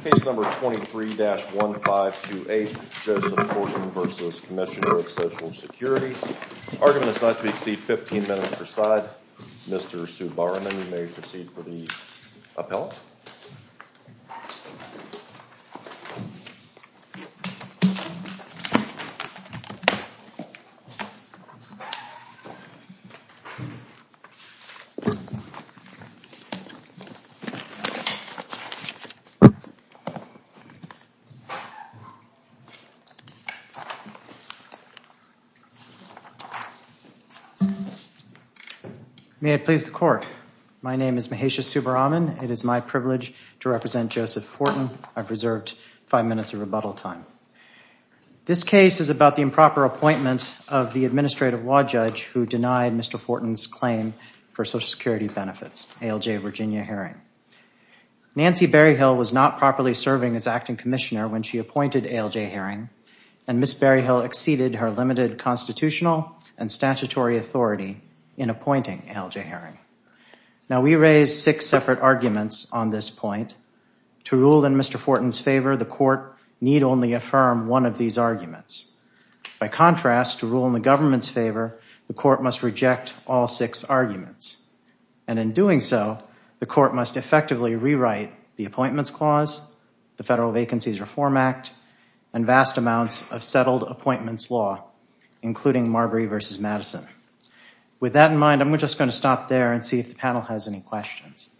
Argument is not to be seen, 15 minutes per side. Mr. Subaraman, you may proceed for the appellate. May it please the court, my name is Mahesha Subaraman. It is my privilege to represent Joseph Fortin. I've reserved five minutes of rebuttal time. This case is about the improper appointment of the administrative law judge who denied Mr. Fortin's claim for Social Security benefits, ALJ Virginia Herring. Nancy Berryhill was not properly serving as acting commissioner when she appointed ALJ Herring, and Ms. Berryhill exceeded her limited constitutional and statutory authority in appointing ALJ Herring. Now we raise six separate arguments on this point. To rule in Mr. Fortin's favor, the court need only affirm one of these arguments. By contrast, to rule in the government's favor, the court must reject all six arguments. And in doing so, the court must effectively rewrite the Appointments Clause, the Federal Vacancies Reform Act, and vast amounts of settled appointments law, including Marbury v. Madison. With that in mind, I'm just going to stop there and see if the panel has any questions.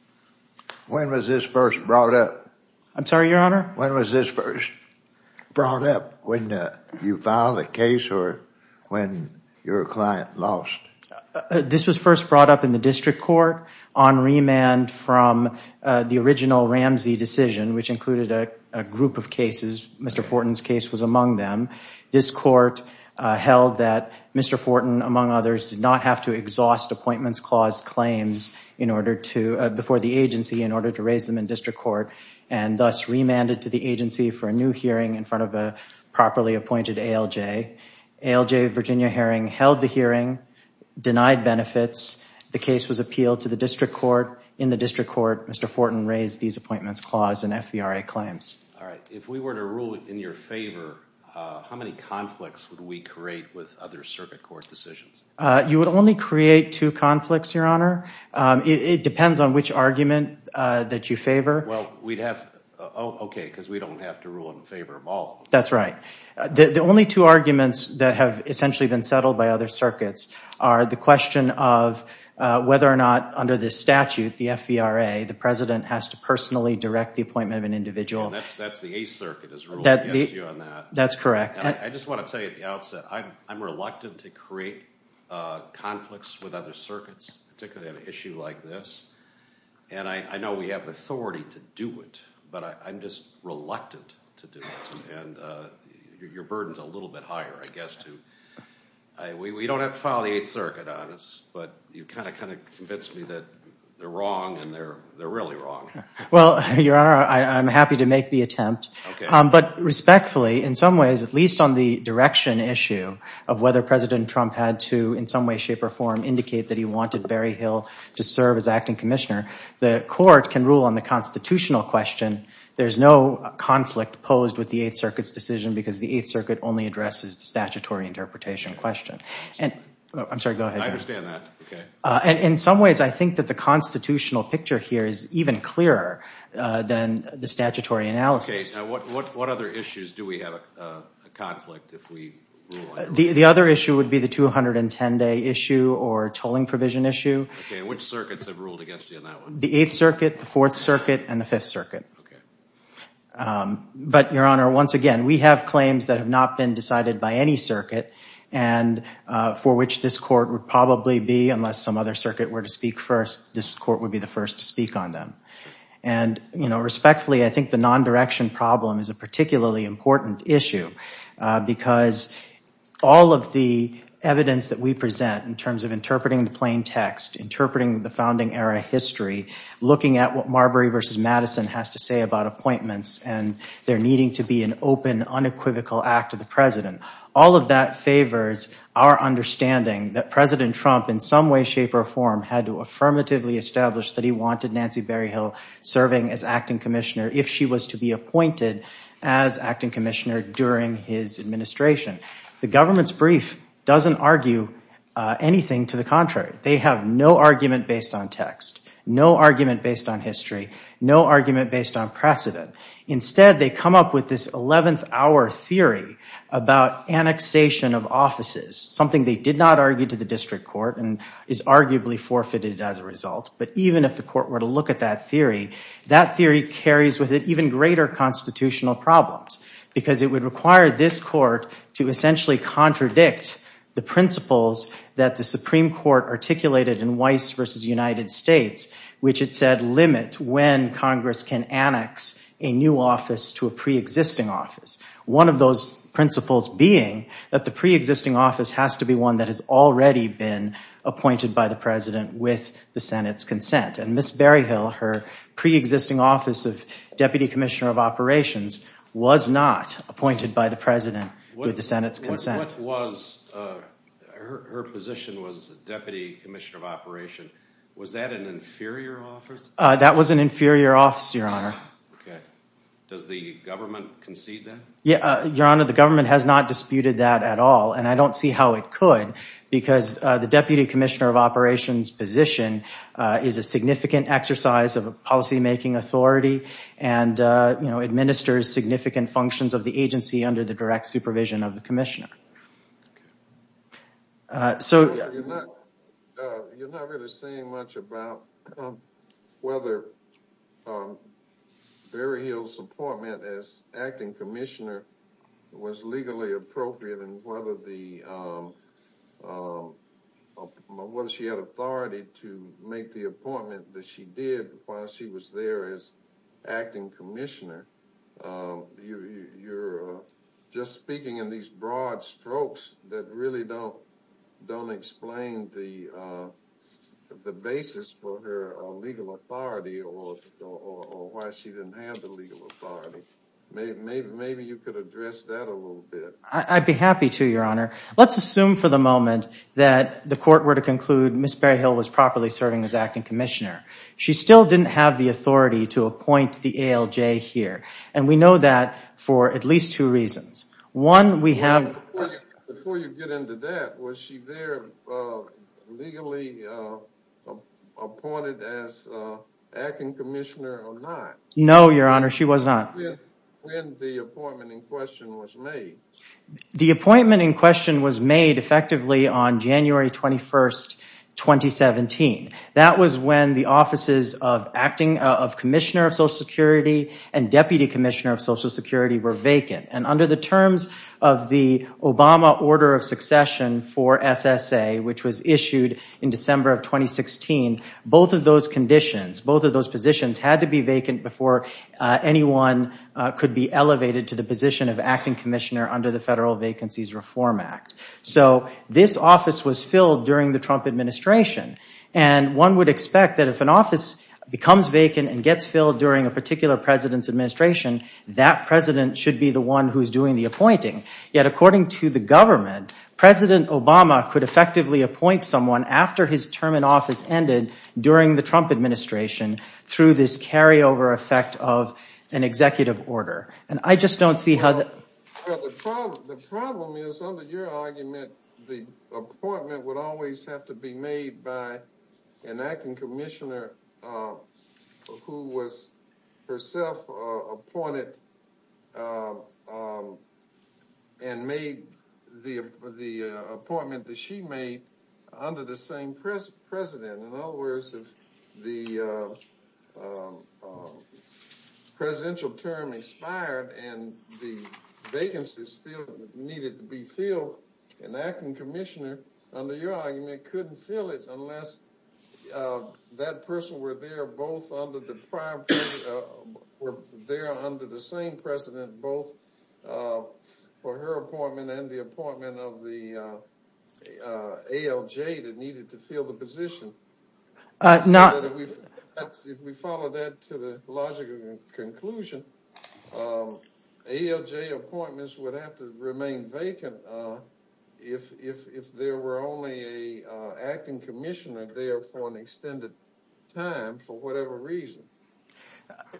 When was this first brought up? I'm sorry, Your Honor? When was this first brought up? When you filed a case or when your client lost? This was first brought up in the district court on remand from the original Ramsey decision, which included a group of cases. Mr. Fortin's case was among them. This court held that Mr. Fortin, among others, did not have to exhaust Appointments Clause claims before the agency in order to raise them in district court and thus remanded to the agency for a new hearing in front of a properly appointed ALJ. ALJ Virginia Herring held the hearing, denied benefits. The case was appealed to the district court. In the district court, Mr. Fortin raised these Appointments Clause and FVRA claims. If we were to rule in your favor, how many conflicts would we create with other circuit court decisions? You would only create two conflicts, Your Honor. It depends on which argument that you favor. Okay, because we don't have to rule in favor of all. That's right. The only two arguments that have essentially been settled by other circuits are the question of whether or not under this statute, the FVRA, the president has to personally direct the appointment of an individual. That's the Eighth Circuit's rule against you on that. That's correct. I just want to tell you at the outset, I'm reluctant to create conflicts with other circuits, particularly on an issue like this, and I know we have the authority to do it, but I'm just reluctant to do it, and your burden's a little bit higher, I guess, too. We don't have to file the Eighth Circuit on us, but you've kind of convinced me that they're wrong, and they're really wrong. Well, Your Honor, I'm happy to make the attempt, but respectfully, in some ways, at least on the direction issue of whether President Trump had to in some way, shape, or form indicate that he wanted Barry Hill to serve as acting commissioner, the court can rule on the constitutional question. There's no conflict posed with the Eighth Circuit's decision because the Eighth Circuit only addresses the statutory interpretation question. I'm sorry, go ahead. I understand that. In some ways, I think that the constitutional picture here is even clearer than the statutory analysis. What other issues do we have a conflict if we rule on? The other issue would be the 210-day issue or tolling provision issue. Which circuits have ruled against you on that one? The Eighth Circuit, the Fourth Circuit, and the Fifth Circuit. But, Your Honor, once again, we have claims that have not been decided by any circuit, for which this court would probably be, unless some other circuit were to speak first, this court would be the first to speak on them. Respectfully, I think the non-direction problem is a particularly important issue because all of the evidence that we present in terms of interpreting the plain text, interpreting the founding era history, looking at what Marbury v. Madison has to say about appointments, and there needing to be an open, unequivocal act of the president. All of that favors our understanding that President Trump, in some way, shape, or form, had to affirmatively establish that he wanted Nancy Berryhill serving as acting commissioner if she was to be appointed as acting commissioner during his administration. The government's brief doesn't argue anything to the contrary. They have no argument based on text, no argument based on history, no argument based on precedent. Instead, they come up with this 11th hour theory about annexation of offices, something they did not argue to the district court and is arguably forfeited as a result. But even if the court were to look at that theory, that theory carries with it even greater constitutional problems because it would require this court to essentially contradict the principles that the Supreme Court articulated in Weiss v. United States, which it said limit when Congress can annex a new office to a preexisting office. One of those principles being that the preexisting office has to be one that has already been appointed by the president with the Senate's consent. And Ms. Berryhill, her preexisting office of deputy commissioner of operations, was not appointed by the president with the Senate's consent. Her position was deputy commissioner of operations. Was that an inferior office? That was an inferior office, Your Honor. Does the government concede that? Your Honor, the government has not disputed that at all, and I don't see how it could because the deputy commissioner of operations position is a significant exercise of a policymaking authority and administers significant functions of the agency under the direct supervision of the commissioner. You're not really saying much about whether Berryhill's appointment as acting commissioner was legally appropriate and whether she had authority to make the appointment that she did while she was there as acting commissioner. You're just speaking in these broad strokes that really don't explain the basis for her legal authority or why she didn't have the legal authority. Maybe you could address that a little bit. I'd be happy to, Your Honor. Let's assume for the moment that the court were to conclude Ms. Berryhill was properly serving as acting commissioner. She still didn't have the authority to appoint the ALJ here, and we know that for at least two reasons. Before you get into that, was she there legally appointed as acting commissioner or not? No, Your Honor, she was not. When the appointment in question was made? The appointment in question was made effectively on January 21, 2017. That was when the offices of acting commissioner of Social Security and deputy commissioner of Social Security were vacant. Under the terms of the Obama order of succession for SSA, which was issued in December of 2016, both of those positions had to be vacant before anyone could be elevated to the position of acting commissioner under the Federal Vacancies Reform Act. This office was filled during the Trump administration, and one would expect that if an office becomes vacant and gets filled during a particular president's administration, that president should be the one who is doing the appointing. Yet according to the government, President Obama could effectively appoint someone after his term in office ended during the Trump administration through this carryover effect of an executive order. The problem is, under your argument, the appointment would always have to be made by an acting commissioner who was herself appointed and made the appointment that she made under the same president. In other words, if the presidential term expired and the vacancies still needed to be filled, an acting commissioner, under your argument, couldn't fill it unless that person were there both under the same president, both for her appointment and the appointment of the ALJ that needed to fill the position. If we follow that to the logical conclusion, ALJ appointments would have to remain vacant if there were only an acting commissioner there for an extended time for whatever reason.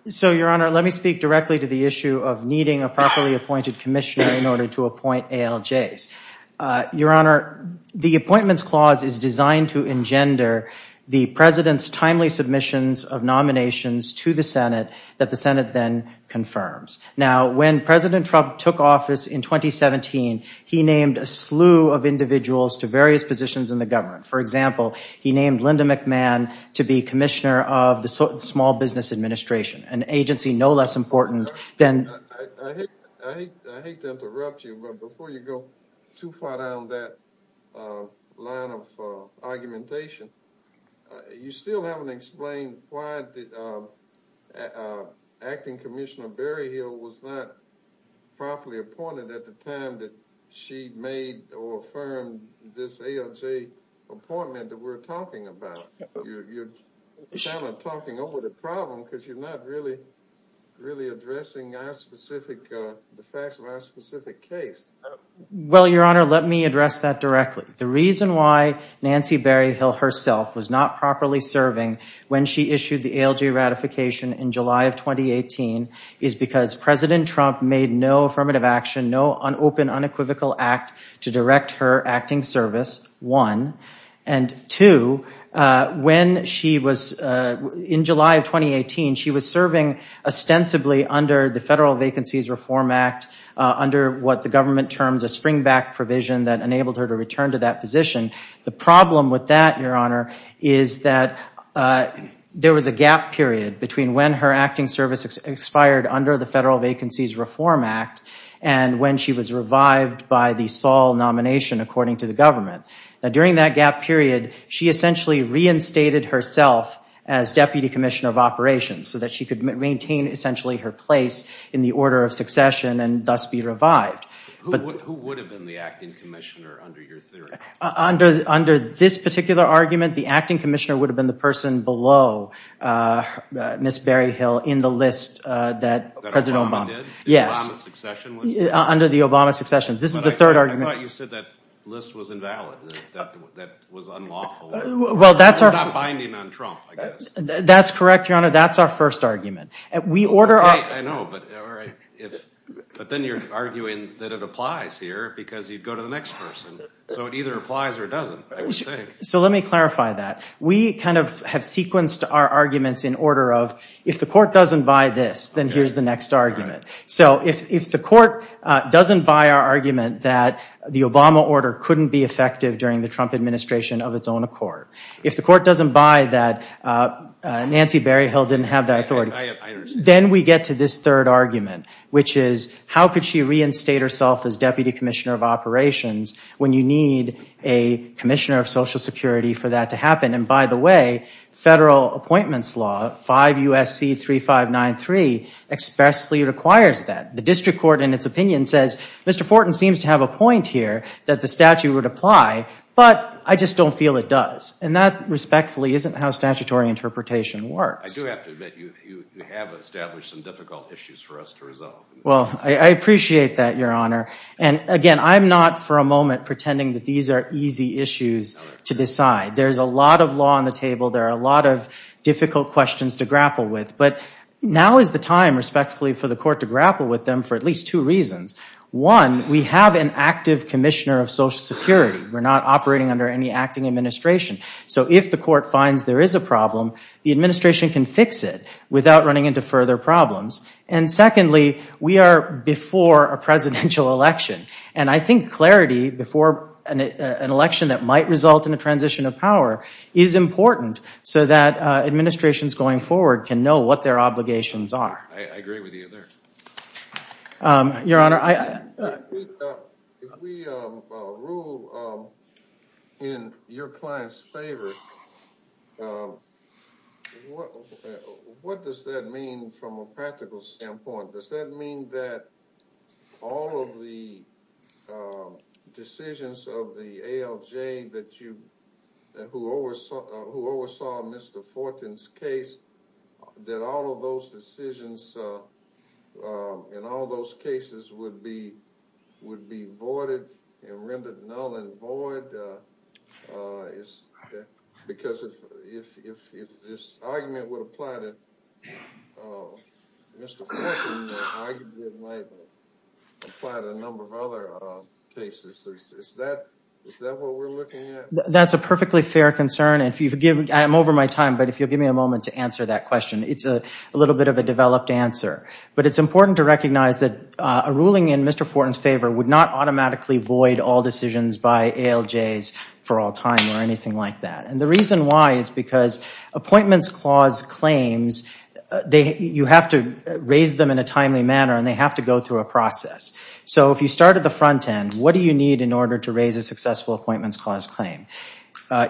Your Honor, let me speak directly to the issue of needing a properly appointed commissioner in order to appoint ALJs. Your Honor, the appointments clause is designed to engender the president's timely submissions of nominations to the Senate that the Senate then confirms. Now, when President Trump took office in 2017, he named a slew of individuals to various positions in the government. For example, he named Linda McMahon to be commissioner of the Small Business Administration, an agency no less important than... I hate to interrupt you, but before you go too far down that line of argumentation, you still haven't explained why the acting commissioner, Barry Hill, was not properly appointed at the time that she made or affirmed this ALJ appointment that we're talking about. You're kind of talking over the problem because you're not really addressing the facts of our specific case. Well, Your Honor, let me address that directly. The reason why Nancy Barry Hill herself was not properly serving when she issued the ALJ ratification in July of 2018 is because President Trump made no affirmative action, no open unequivocal act to direct her acting service, one. And two, when she was... In July of 2018, she was serving ostensibly under the Federal Vacancies Reform Act under what the government terms a springback provision that enabled her to return to that position. The problem with that, Your Honor, is that there was a gap period between when her acting service expired under the Federal Vacancies Reform Act and when she was revived by the Saul nomination, according to the government. Now, during that gap period, she essentially reinstated herself as deputy commissioner of operations so that she could maintain essentially her place in the order of succession and thus be revived. Who would have been the acting commissioner under your theory? Under this particular argument, the acting commissioner would have been the person below Ms. Barry Hill in the list that President Obama... That Obama did? The Obama succession list? Yes, under the Obama succession. This is the third argument. I thought you said that list was invalid, that was unlawful. Well, that's our... It's not binding on Trump, I guess. That's correct, Your Honor, that's our first argument. We order our... I know, but then you're arguing that it applies here because you'd go to the next person. So it either applies or it doesn't. So let me clarify that. We kind of have sequenced our arguments in order of if the court doesn't buy this, then here's the next argument. So if the court doesn't buy our argument that the Obama order couldn't be effective during the Trump administration of its own accord, if the court doesn't buy that Nancy Barry Hill didn't have that authority... I understand. ...then we get to this third argument, which is how could she reinstate herself as deputy commissioner of operations when you need a commissioner of Social Security for that to happen? And by the way, federal appointments law, 5 U.S.C. 3593, expressly requires that. The district court, in its opinion, says, Mr. Fortin seems to have a point here that the statute would apply, but I just don't feel it does. And that, respectfully, isn't how statutory interpretation works. I do have to admit you have established some difficult issues for us to resolve. Well, I appreciate that, Your Honor. And again, I'm not, for a moment, pretending that these are easy issues to decide. There's a lot of law on the table. There are a lot of difficult questions to grapple with. But now is the time, respectfully, for the court to grapple with them for at least two reasons. One, we have an active commissioner of Social Security. We're not operating under any acting administration. So if the court finds there is a problem, the administration can fix it without running into further problems. And secondly, we are before a presidential election. And I think clarity before an election that might result in a transition of power is important so that administrations going forward can know what their obligations are. I agree with you there. Your Honor, I... If we rule in your client's favor, what does that mean from a practical standpoint? Does that mean that all of the decisions of the ALJ who oversaw Mr. Fortin's case, that all of those decisions in all those cases would be voided and rendered null and void? Because if this argument would apply to Mr. Fortin, the argument might apply to a number of other cases. Is that what we're looking at? That's a perfectly fair concern. I'm over my time, but if you'll give me a moment to answer that question. It's a little bit of a developed answer. But it's important to recognize that a ruling in Mr. Fortin's favor would not automatically void all decisions by ALJs for all time or anything like that. And the reason why is because appointments clause claims, you have to raise them in a timely manner, and they have to go through a process. So if you start at the front end, what do you need in order to raise a successful appointments clause claim?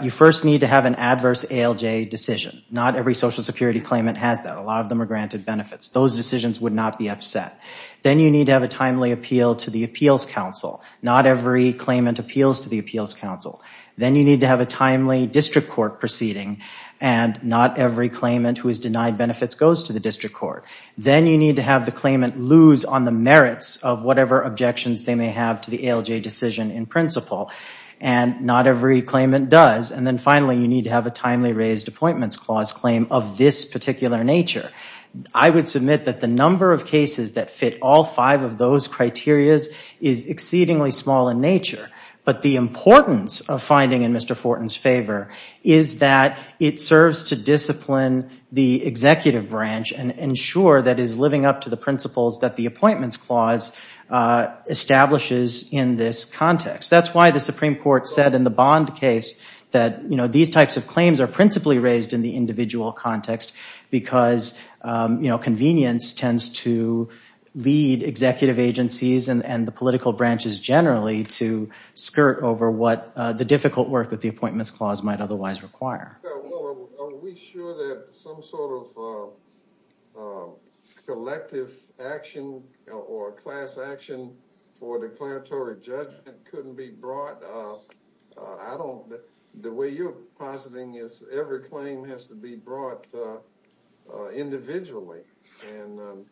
You first need to have an adverse ALJ decision. Not every Social Security claimant has that. A lot of them are granted benefits. Those decisions would not be upset. Then you need to have a timely appeal to the appeals council. Not every claimant appeals to the appeals council. Then you need to have a timely district court proceeding, and not every claimant who is denied benefits goes to the district court. Then you need to have the claimant lose on the merits of whatever objections they may have to the ALJ decision in principle. And not every claimant does. And then finally, you need to have a timely raised appointments clause claim of this particular nature. I would submit that the number of cases that fit all five of those criteria is exceedingly small in nature. But the importance of finding in Mr. Fortin's favor is that it serves to discipline the executive branch and ensure that it is living up to the principles that the appointments clause establishes in this context. That's why the Supreme Court said in the Bond case that these types of claims are principally raised in the individual context because convenience tends to lead executive agencies and the political branches generally to skirt over the difficult work that the appointments clause might otherwise require. Are we sure that some sort of collective action or class action for declaratory judgment couldn't be brought? The way you're positing is every claim has to be brought individually. And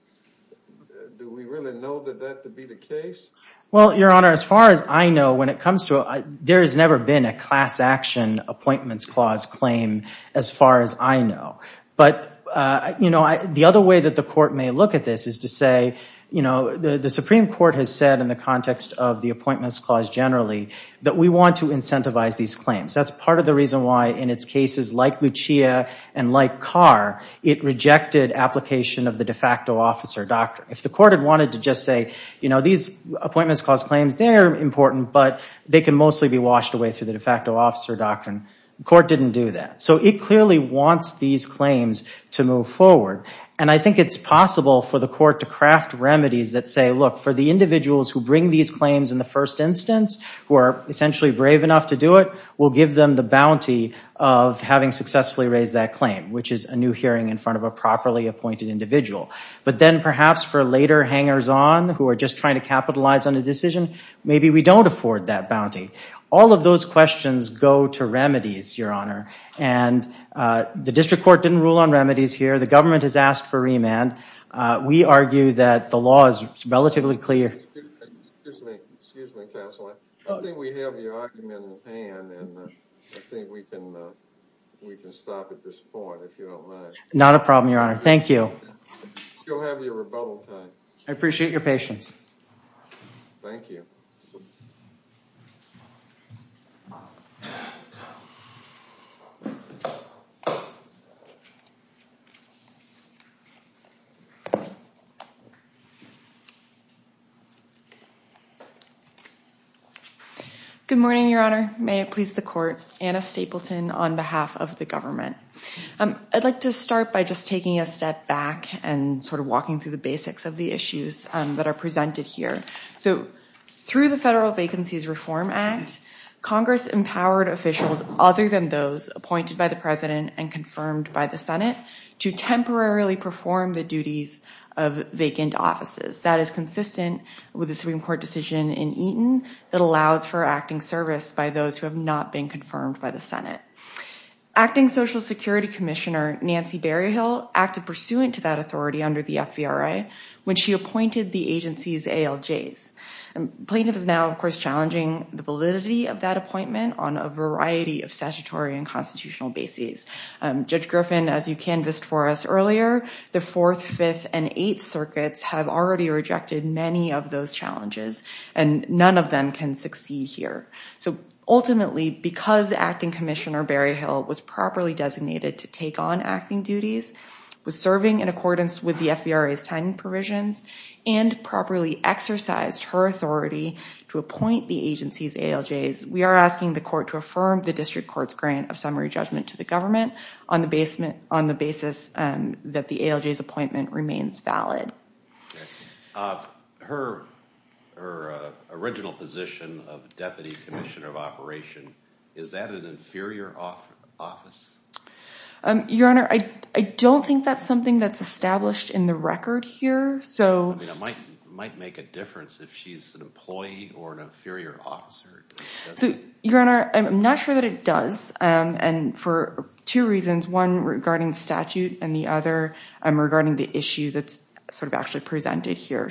do we really know that that to be the case? Well, Your Honor, as far as I know, when it comes to it, there has never been a class action appointments clause claim as far as I know. But the other way that the court may look at this is to say, the Supreme Court has said in the context of the appointments clause generally that we want to incentivize these claims. That's part of the reason why in its cases like Lucia and like Carr, it rejected application of the de facto officer doctrine. If the court had wanted to just say these appointments clause claims, they're important, but they can mostly be washed away through the de facto officer doctrine. The court didn't do that. So it clearly wants these claims to move forward. And I think it's possible for the court to craft remedies that say, look, for the individuals who bring these claims in the first instance, who are essentially brave enough to do it, we'll give them the bounty of having successfully raised that claim, which is a new hearing in front of a properly appointed individual. But then perhaps for later hangers-on who are just trying to capitalize on a decision, maybe we don't afford that bounty. All of those questions go to remedies, Your Honor. And the district court didn't rule on remedies here. The government has asked for remand. We argue that the law is relatively clear. Excuse me, counsel. I think we have your argument in hand, and I think we can stop at this point, if you don't mind. Not a problem, Your Honor. Thank you. I appreciate your patience. Thank you. Good morning, Your Honor. May it please the court. Anna Stapleton on behalf of the government. I'd like to start by just taking a step back and sort of walking through the basics of the issues that are presented here. So through the Federal Vacancies Reform Act, Congress empowered officials other than those appointed by the president and confirmed by the Senate to temporarily perform the duties of vacant offices. That is consistent with the Supreme Court decision in Eaton that allows for acting service by those who have not been confirmed by the Senate. Acting Social Security Commissioner Nancy Berryhill acted pursuant to that authority under the FVRA when she appointed the agency's ALJs. The plaintiff is now, of course, challenging the validity of that appointment on a variety of statutory and constitutional bases. Judge Griffin, as you canvassed for us earlier, the Fourth, Fifth, and Eighth Circuits have already rejected many of those challenges, and none of them can succeed here. So ultimately, because Acting Commissioner Berryhill was properly designated to take on acting duties, was serving in accordance with the FVRA's timing provisions, and properly exercised her authority to appoint the agency's ALJs, we are asking the court to affirm the district court's grant of summary judgment to the government on the basis that the ALJ's appointment remains valid. Her original position of Deputy Commissioner of Operation, is that an inferior office? Your Honor, I don't think that's something that's established in the record here. It might make a difference if she's an employee or an inferior officer. Your Honor, I'm not sure that it does, and for two reasons. One regarding the statute, and the other regarding the issue that's actually presented here.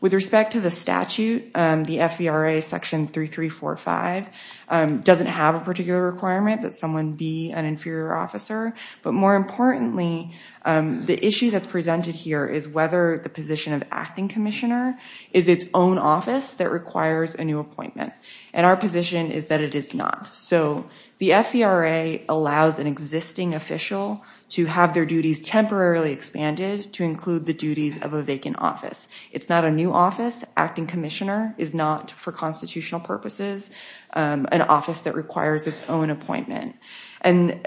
With respect to the statute, the FVRA Section 3345 doesn't have a particular requirement that someone be an inferior officer, but more importantly, the issue that's presented here is whether the position of Acting Commissioner is its own office that requires a new appointment. And our position is that it is not. So the FVRA allows an existing official to have their duties temporarily expanded to include the duties of a vacant office. It's not a new office. Acting Commissioner is not, for constitutional purposes, an office that requires its own appointment. And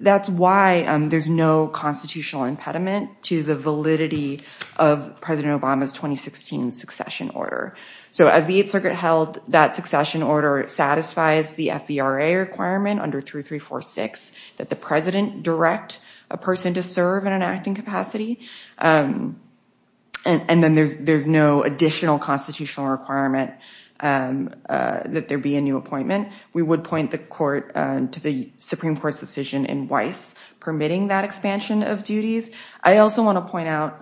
that's why there's no constitutional impediment to the validity of President Obama's 2016 succession order. So as the Eighth Circuit held, that succession order satisfies the FVRA requirement under 3346 that the President direct a person to serve in an acting capacity. And then there's no additional constitutional requirement that there be a new appointment. We would point the Supreme Court's decision in Weiss permitting that expansion of duties. I also want to point out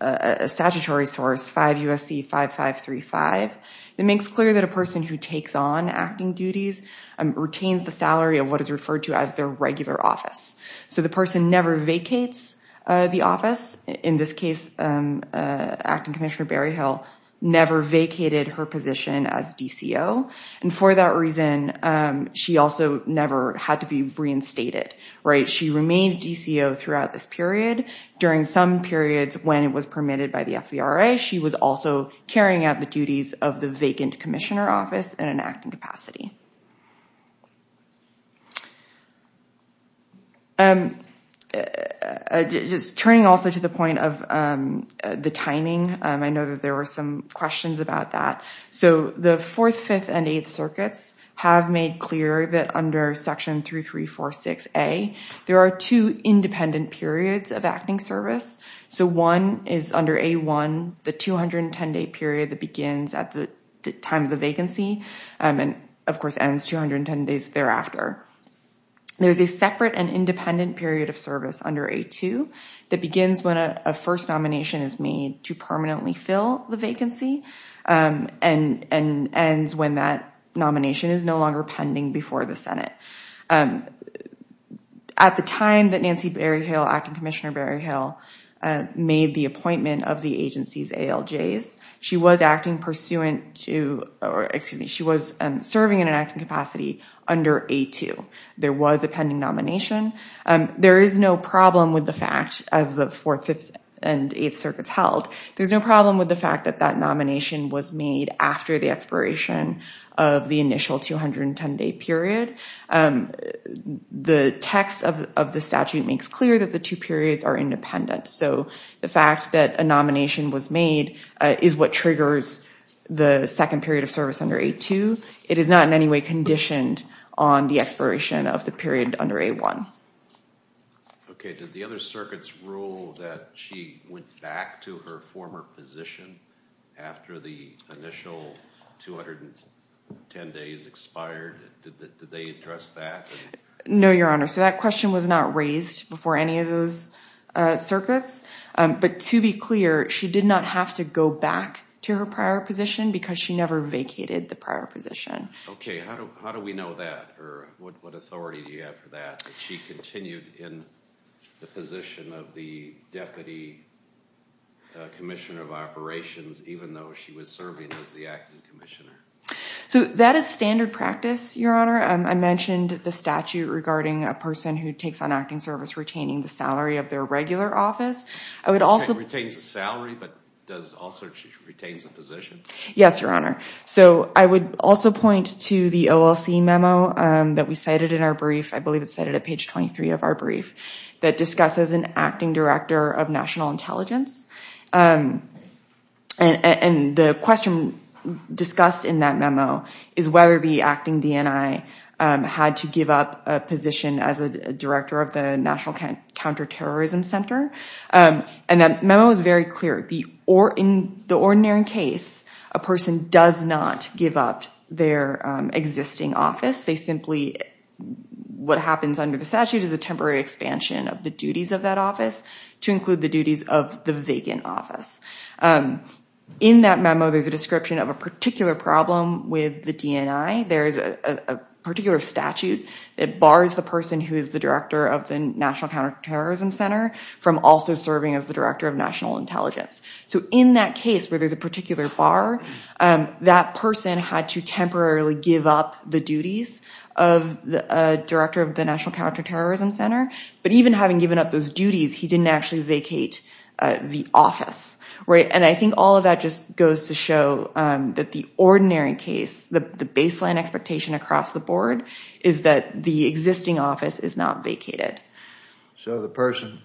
a statutory source, 5 USC 5535, that makes clear that a person who takes on acting duties retains the salary of what is referred to as their regular office. So the person never vacates the office. In this case, Acting Commissioner Berryhill never vacated her position as DCO. And for that reason, she also never had to be reinstated. She remained DCO throughout this period. During some periods when it was permitted by the FVRA, she was also carrying out the duties of the vacant Commissioner office in an acting capacity. Just turning also to the point of the timing, I know that there were some questions about that. So the 4th, 5th, and 8th circuits have made clear that under Section 3346A, there are two independent periods of acting service. So one is under A1, the 210-day period that begins at the time of the vacancy and, of course, ends 210 days thereafter. There's a separate and independent period of service under A2 that begins when a first nomination is made to permanently fill the vacancy. And ends when that nomination is no longer pending before the Senate. At the time that Nancy Berryhill, Acting Commissioner Berryhill, made the appointment of the agency's ALJs, she was serving in an acting capacity under A2. There was a pending nomination. There is no problem with the fact, as the 4th, 5th, and 8th circuits held, there's no problem with the fact that that nomination was made after the expiration of the initial 210-day period. The text of the statute makes clear that the two periods are independent. So the fact that a nomination was made is what triggers the second period of service under A2. It is not in any way conditioned on the expiration of the period under A1. Okay. Did the other circuits rule that she went back to her former position after the initial 210 days expired? Did they address that? No, Your Honor. So that question was not raised before any of those circuits. But to be clear, she did not have to go back to her prior position because she never vacated the prior position. Okay. How do we know that? What authority do you have for that, that she continued in the position of the deputy commissioner of operations even though she was serving as the acting commissioner? So that is standard practice, Your Honor. I mentioned the statute regarding a person who takes on acting service retaining the salary of their regular office. Retains the salary but also retains the position? Yes, Your Honor. So I would also point to the OLC memo that we cited in our brief. I believe it's cited at page 23 of our brief that discusses an acting director of national intelligence. And the question discussed in that memo is whether the acting DNI had to give up a position as a director of the National Counterterrorism Center. And that memo is very clear. In the ordinary case, a person does not give up their existing office. They simply, what happens under the statute is a temporary expansion of the duties of that office to include the duties of the vacant office. In that memo, there's a description of a particular problem with the DNI. There is a particular statute that bars the person who is the director of the National Counterterrorism Center from also serving as the director of national intelligence. So in that case where there's a particular bar, that person had to temporarily give up the duties of the director of the National Counterterrorism Center. But even having given up those duties, he didn't actually vacate the office. And I think all of that just goes to show that the ordinary case, the baseline expectation across the board, is that the existing office is not vacated. So the person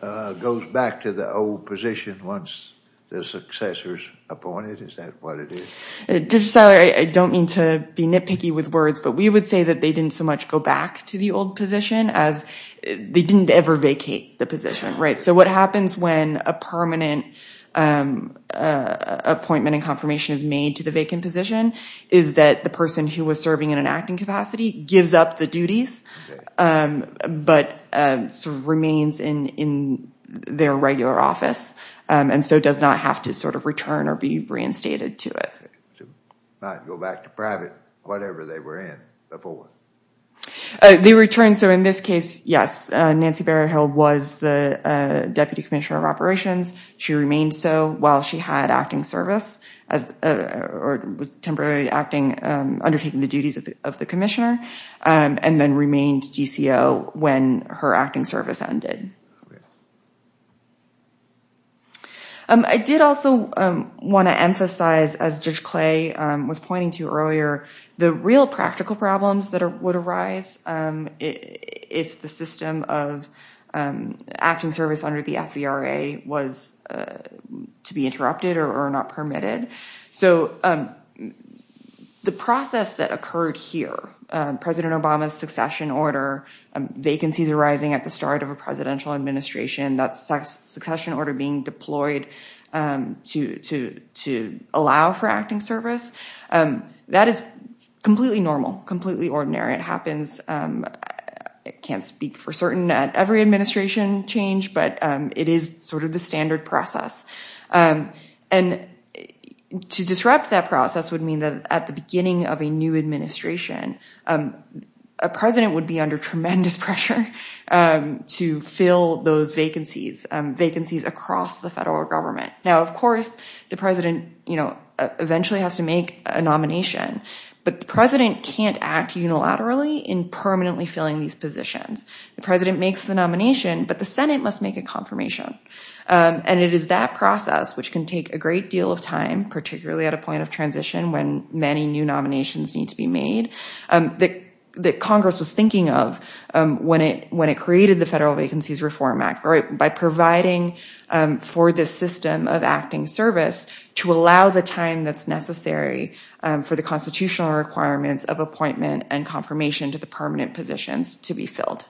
goes back to the old position once their successor is appointed? Is that what it is? Director Seller, I don't mean to be nitpicky with words, but we would say that they didn't so much go back to the old position as they didn't ever vacate the position. So what happens when a permanent appointment and confirmation is made to the vacant position is that the person who was serving in an acting capacity gives up the duties but sort of remains in their regular office and so does not have to sort of return or be reinstated to it. Not go back to private, whatever they were in before. They return. So in this case, yes, Nancy Berryhill was the deputy commissioner of operations. She remained so while she had acting service or was temporarily undertaking the duties of the commissioner and then remained GCO when her acting service ended. I did also want to emphasize, as Judge Clay was pointing to earlier, the real practical problems that would arise if the system of acting service under the FVRA was to be interrupted or not permitted. So the process that occurred here, President Obama's succession order, vacancies arising at the start of a presidential administration, that succession order being deployed to allow for acting service, that is completely normal, completely ordinary. It happens. I can't speak for certain that every administration changed, but it is sort of the standard process. And to disrupt that process would mean that at the beginning of a new administration, a president would be under tremendous pressure to fill those vacancies, vacancies across the federal government. Now, of course, the president eventually has to make a nomination, but the president can't act unilaterally in permanently filling these positions. The president makes the nomination, but the Senate must make a confirmation. And it is that process, which can take a great deal of time, particularly at a point of transition when many new nominations need to be made, that Congress was thinking of when it created the Federal Vacancies Reform Act by providing for this system of acting service to allow the time that's necessary for the constitutional requirements of appointment and confirmation to the permanent positions to be filled.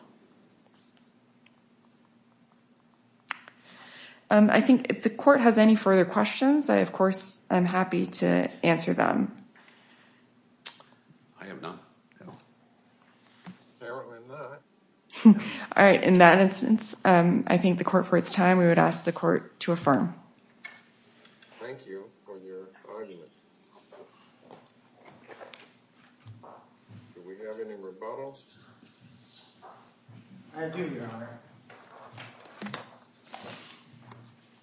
I think if the court has any further questions, I, of course, am happy to answer them. I have none. Apparently not. All right. In that instance, I think the court for its time, we would ask the court to affirm. Thank you for your argument. Do we have any rebuttals? I do, Your Honor.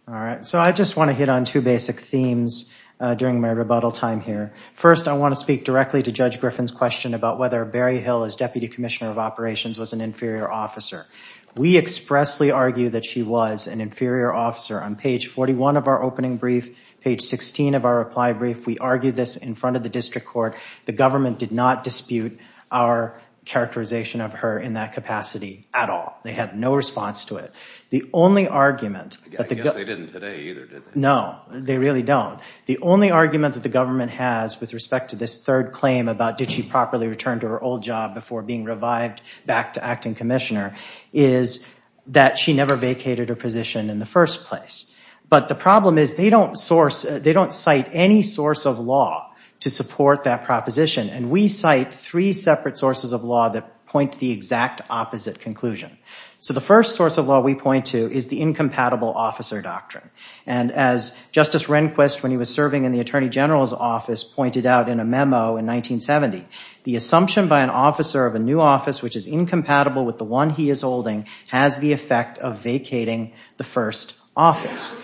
All right. So I just want to hit on two basic themes during my rebuttal time here. First, I want to speak directly to Judge Griffin's question about whether Barry Hill, as Deputy Commissioner of Operations, was an inferior officer. We expressly argue that she was an inferior officer. On page 41 of our opening brief, page 16 of our reply brief, we argue this in front of the district court. The government did not dispute our characterization of her in that capacity at all. They had no response to it. I guess they didn't today either, did they? No, they really don't. The only argument that the government has with respect to this third claim about did she properly return to her old job before being revived back to acting commissioner, is that she never vacated her position in the first place. But the problem is they don't cite any source of law to support that proposition. And we cite three separate sources of law that point to the exact opposite conclusion. So the first source of law we point to is the incompatible officer doctrine. And as Justice Rehnquist, when he was serving in the Attorney General's office, pointed out in a memo in 1970, the assumption by an officer of a new office which is incompatible with the one he is holding has the effect of vacating the first office.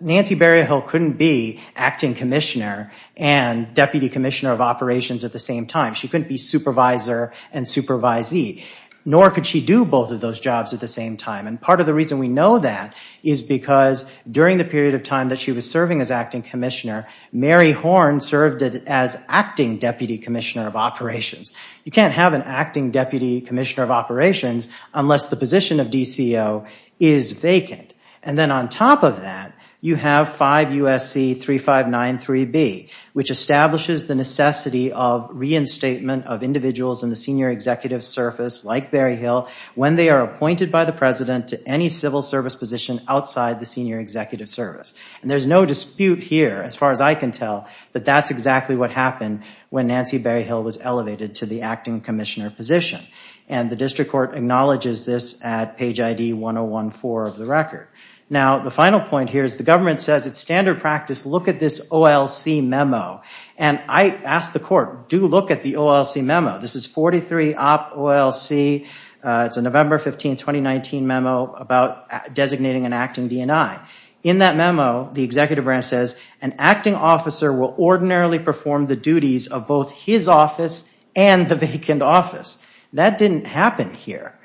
Nancy Berryhill couldn't be acting commissioner and deputy commissioner of operations at the same time. She couldn't be supervisor and supervisee. Nor could she do both of those jobs at the same time. And part of the reason we know that is because during the period of time that she was serving as acting commissioner, Mary Horne served as acting deputy commissioner of operations. You can't have an acting deputy commissioner of operations unless the position of DCO is vacant. And then on top of that, you have 5 U.S.C. 3593B, which establishes the necessity of reinstatement of individuals in the senior executive service, like Berryhill, when they are appointed by the president to any civil service position outside the senior executive service. And there's no dispute here, as far as I can tell, that that's exactly what happened when Nancy Berryhill was elevated to the acting commissioner position. And the district court acknowledges this at page ID 1014 of the record. Now, the final point here is the government says it's standard practice to look at this OLC memo. And I asked the court, do look at the OLC memo. This is 43 op OLC. It's a November 15, 2019 memo about designating an acting DNI. In that memo, the executive branch says, an acting officer will ordinarily perform the duties of both his office and the vacant office. That didn't happen here.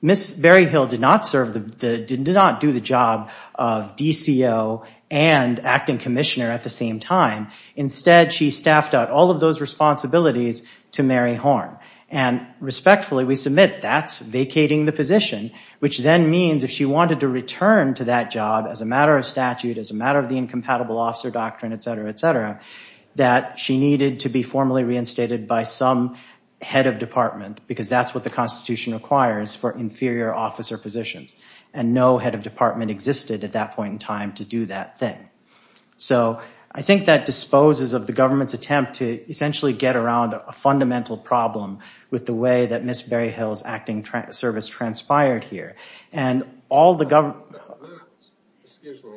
Ms. Berryhill did not do the job of DCO and acting commissioner at the same time. Instead, she staffed out all of those responsibilities to Mary Horn. And respectfully, we submit that's vacating the position, which then means if she wanted to return to that job as a matter of statute, as a matter of the incompatible officer doctrine, et cetera, et cetera, that she needed to be formally reinstated by some head of department because that's what the Constitution requires for inferior officer positions. And no head of department existed at that point in time to do that thing. So I think that disposes of the government's attempt to essentially get around a fundamental problem with the way that Ms. Berryhill's acting service transpired here. And all the government... Excuse me,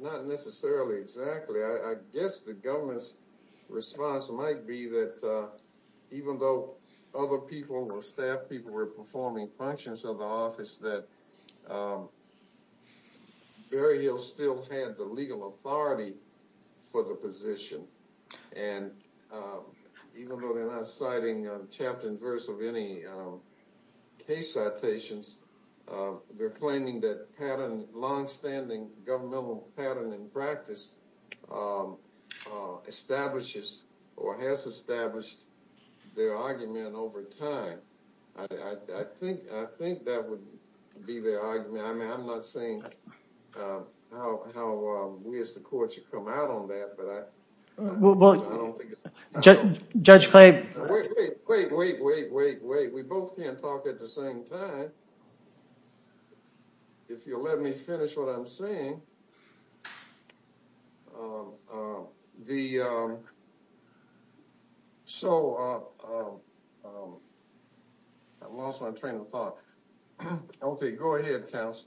not necessarily exactly. I guess the government's response might be that even though other people, staff people, were performing functions of the office, that Berryhill still had the legal authority for the position. And even though they're not citing chapter and verse of any case citations, they're claiming that longstanding governmental pattern and practice establishes or has established their argument over time. I think that would be their argument. I mean, I'm not saying how we as the court should come out on that, but I don't think it's... Judge Clay... Wait, wait, wait, wait, wait, wait. We both can't talk at the same time. If you'll let me finish what I'm saying. So... I lost my train of thought. Okay, go ahead, counsel.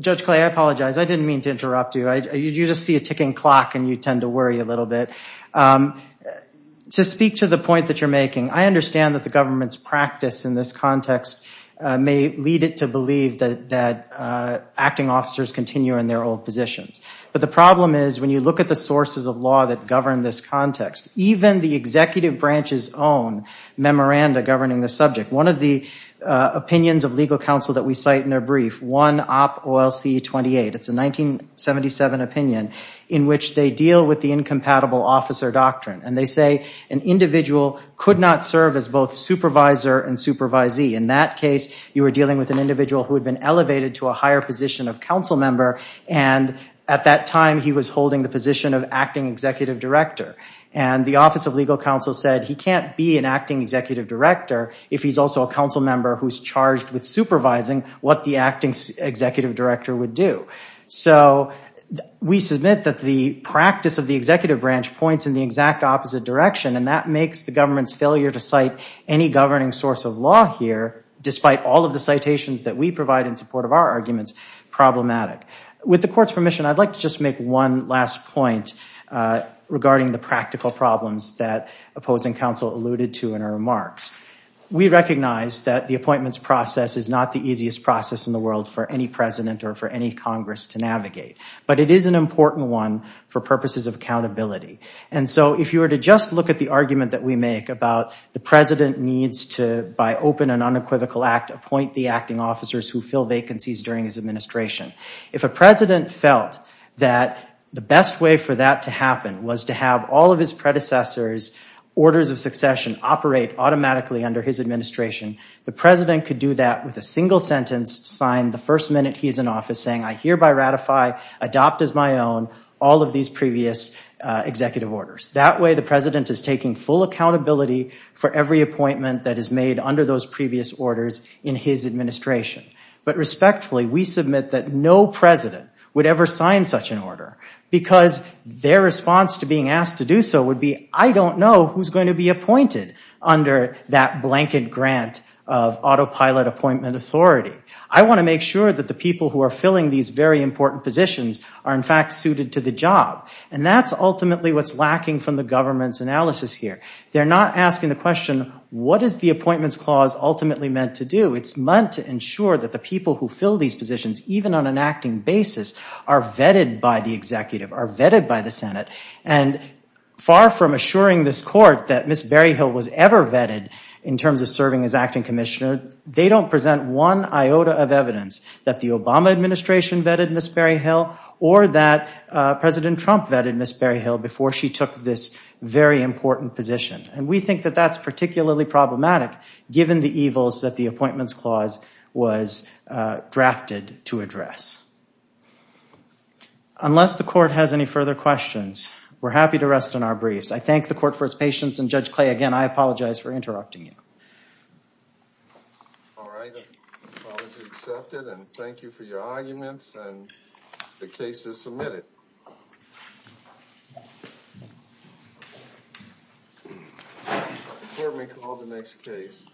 Judge Clay, I apologize. I didn't mean to interrupt you. You just see a ticking clock and you tend to worry a little bit. To speak to the point that you're making, I understand that the government's practice in this context may lead it to believe that acting officers continue in their old positions. But the problem is when you look at the sources of law that govern this context, even the executive branch's own memoranda governing the subject, one of the opinions of legal counsel that we cite in their brief, One Op OLC 28, it's a 1977 opinion, in which they deal with the incompatible officer doctrine. And they say an individual could not serve as both supervisor and supervisee. In that case, you were dealing with an individual who had been elevated to a higher position of council member, and at that time he was holding the position of acting executive director. And the Office of Legal Counsel said he can't be an acting executive director if he's also a council member who's charged with supervising what the acting executive director would do. So we submit that the practice of the executive branch points in the exact opposite direction, and that makes the government's failure to cite any governing source of law here, despite all of the citations that we provide in support of our arguments, problematic. With the court's permission, I'd like to just make one last point regarding the practical problems that opposing counsel alluded to in her remarks. We recognize that the appointments process is not the easiest process in the world for any president or for any Congress to navigate, but it is an important one for purposes of accountability. And so if you were to just look at the argument that we make about the president needs to, by open and unequivocal act, appoint the acting officers who fill vacancies during his administration. If a president felt that the best way for that to happen was to have all of his predecessors' orders of succession operate automatically under his administration, the president could do that with a single sentence signed the first minute he's in office saying, I hereby ratify, adopt as my own, all of these previous executive orders. That way the president is taking full accountability for every appointment that is made under those previous orders in his administration. But respectfully, we submit that no president would ever sign such an order because their response to being asked to do so would be, I don't know who's going to be appointed under that blanket grant of autopilot appointment authority. I want to make sure that the people who are filling these very important positions are in fact suited to the job. And that's ultimately what's lacking from the government's analysis here. They're not asking the question, what is the appointments clause ultimately meant to do? It's meant to ensure that the people who fill these positions, even on an acting basis, are vetted by the executive, are vetted by the Senate. And far from assuring this court that Ms. Berryhill was ever vetted in terms of serving as acting commissioner, they don't present one iota of evidence that the Obama administration vetted Ms. Berryhill or that President Trump vetted Ms. Berryhill before she took this very important position. And we think that that's particularly problematic given the evils that the appointments clause was drafted to address. Unless the court has any further questions, we're happy to rest on our briefs. I thank the court for its patience. And Judge Clay, again, I apologize for interrupting you. All right. The apology is accepted, and thank you for your arguments, and the case is submitted. The court may call the next case.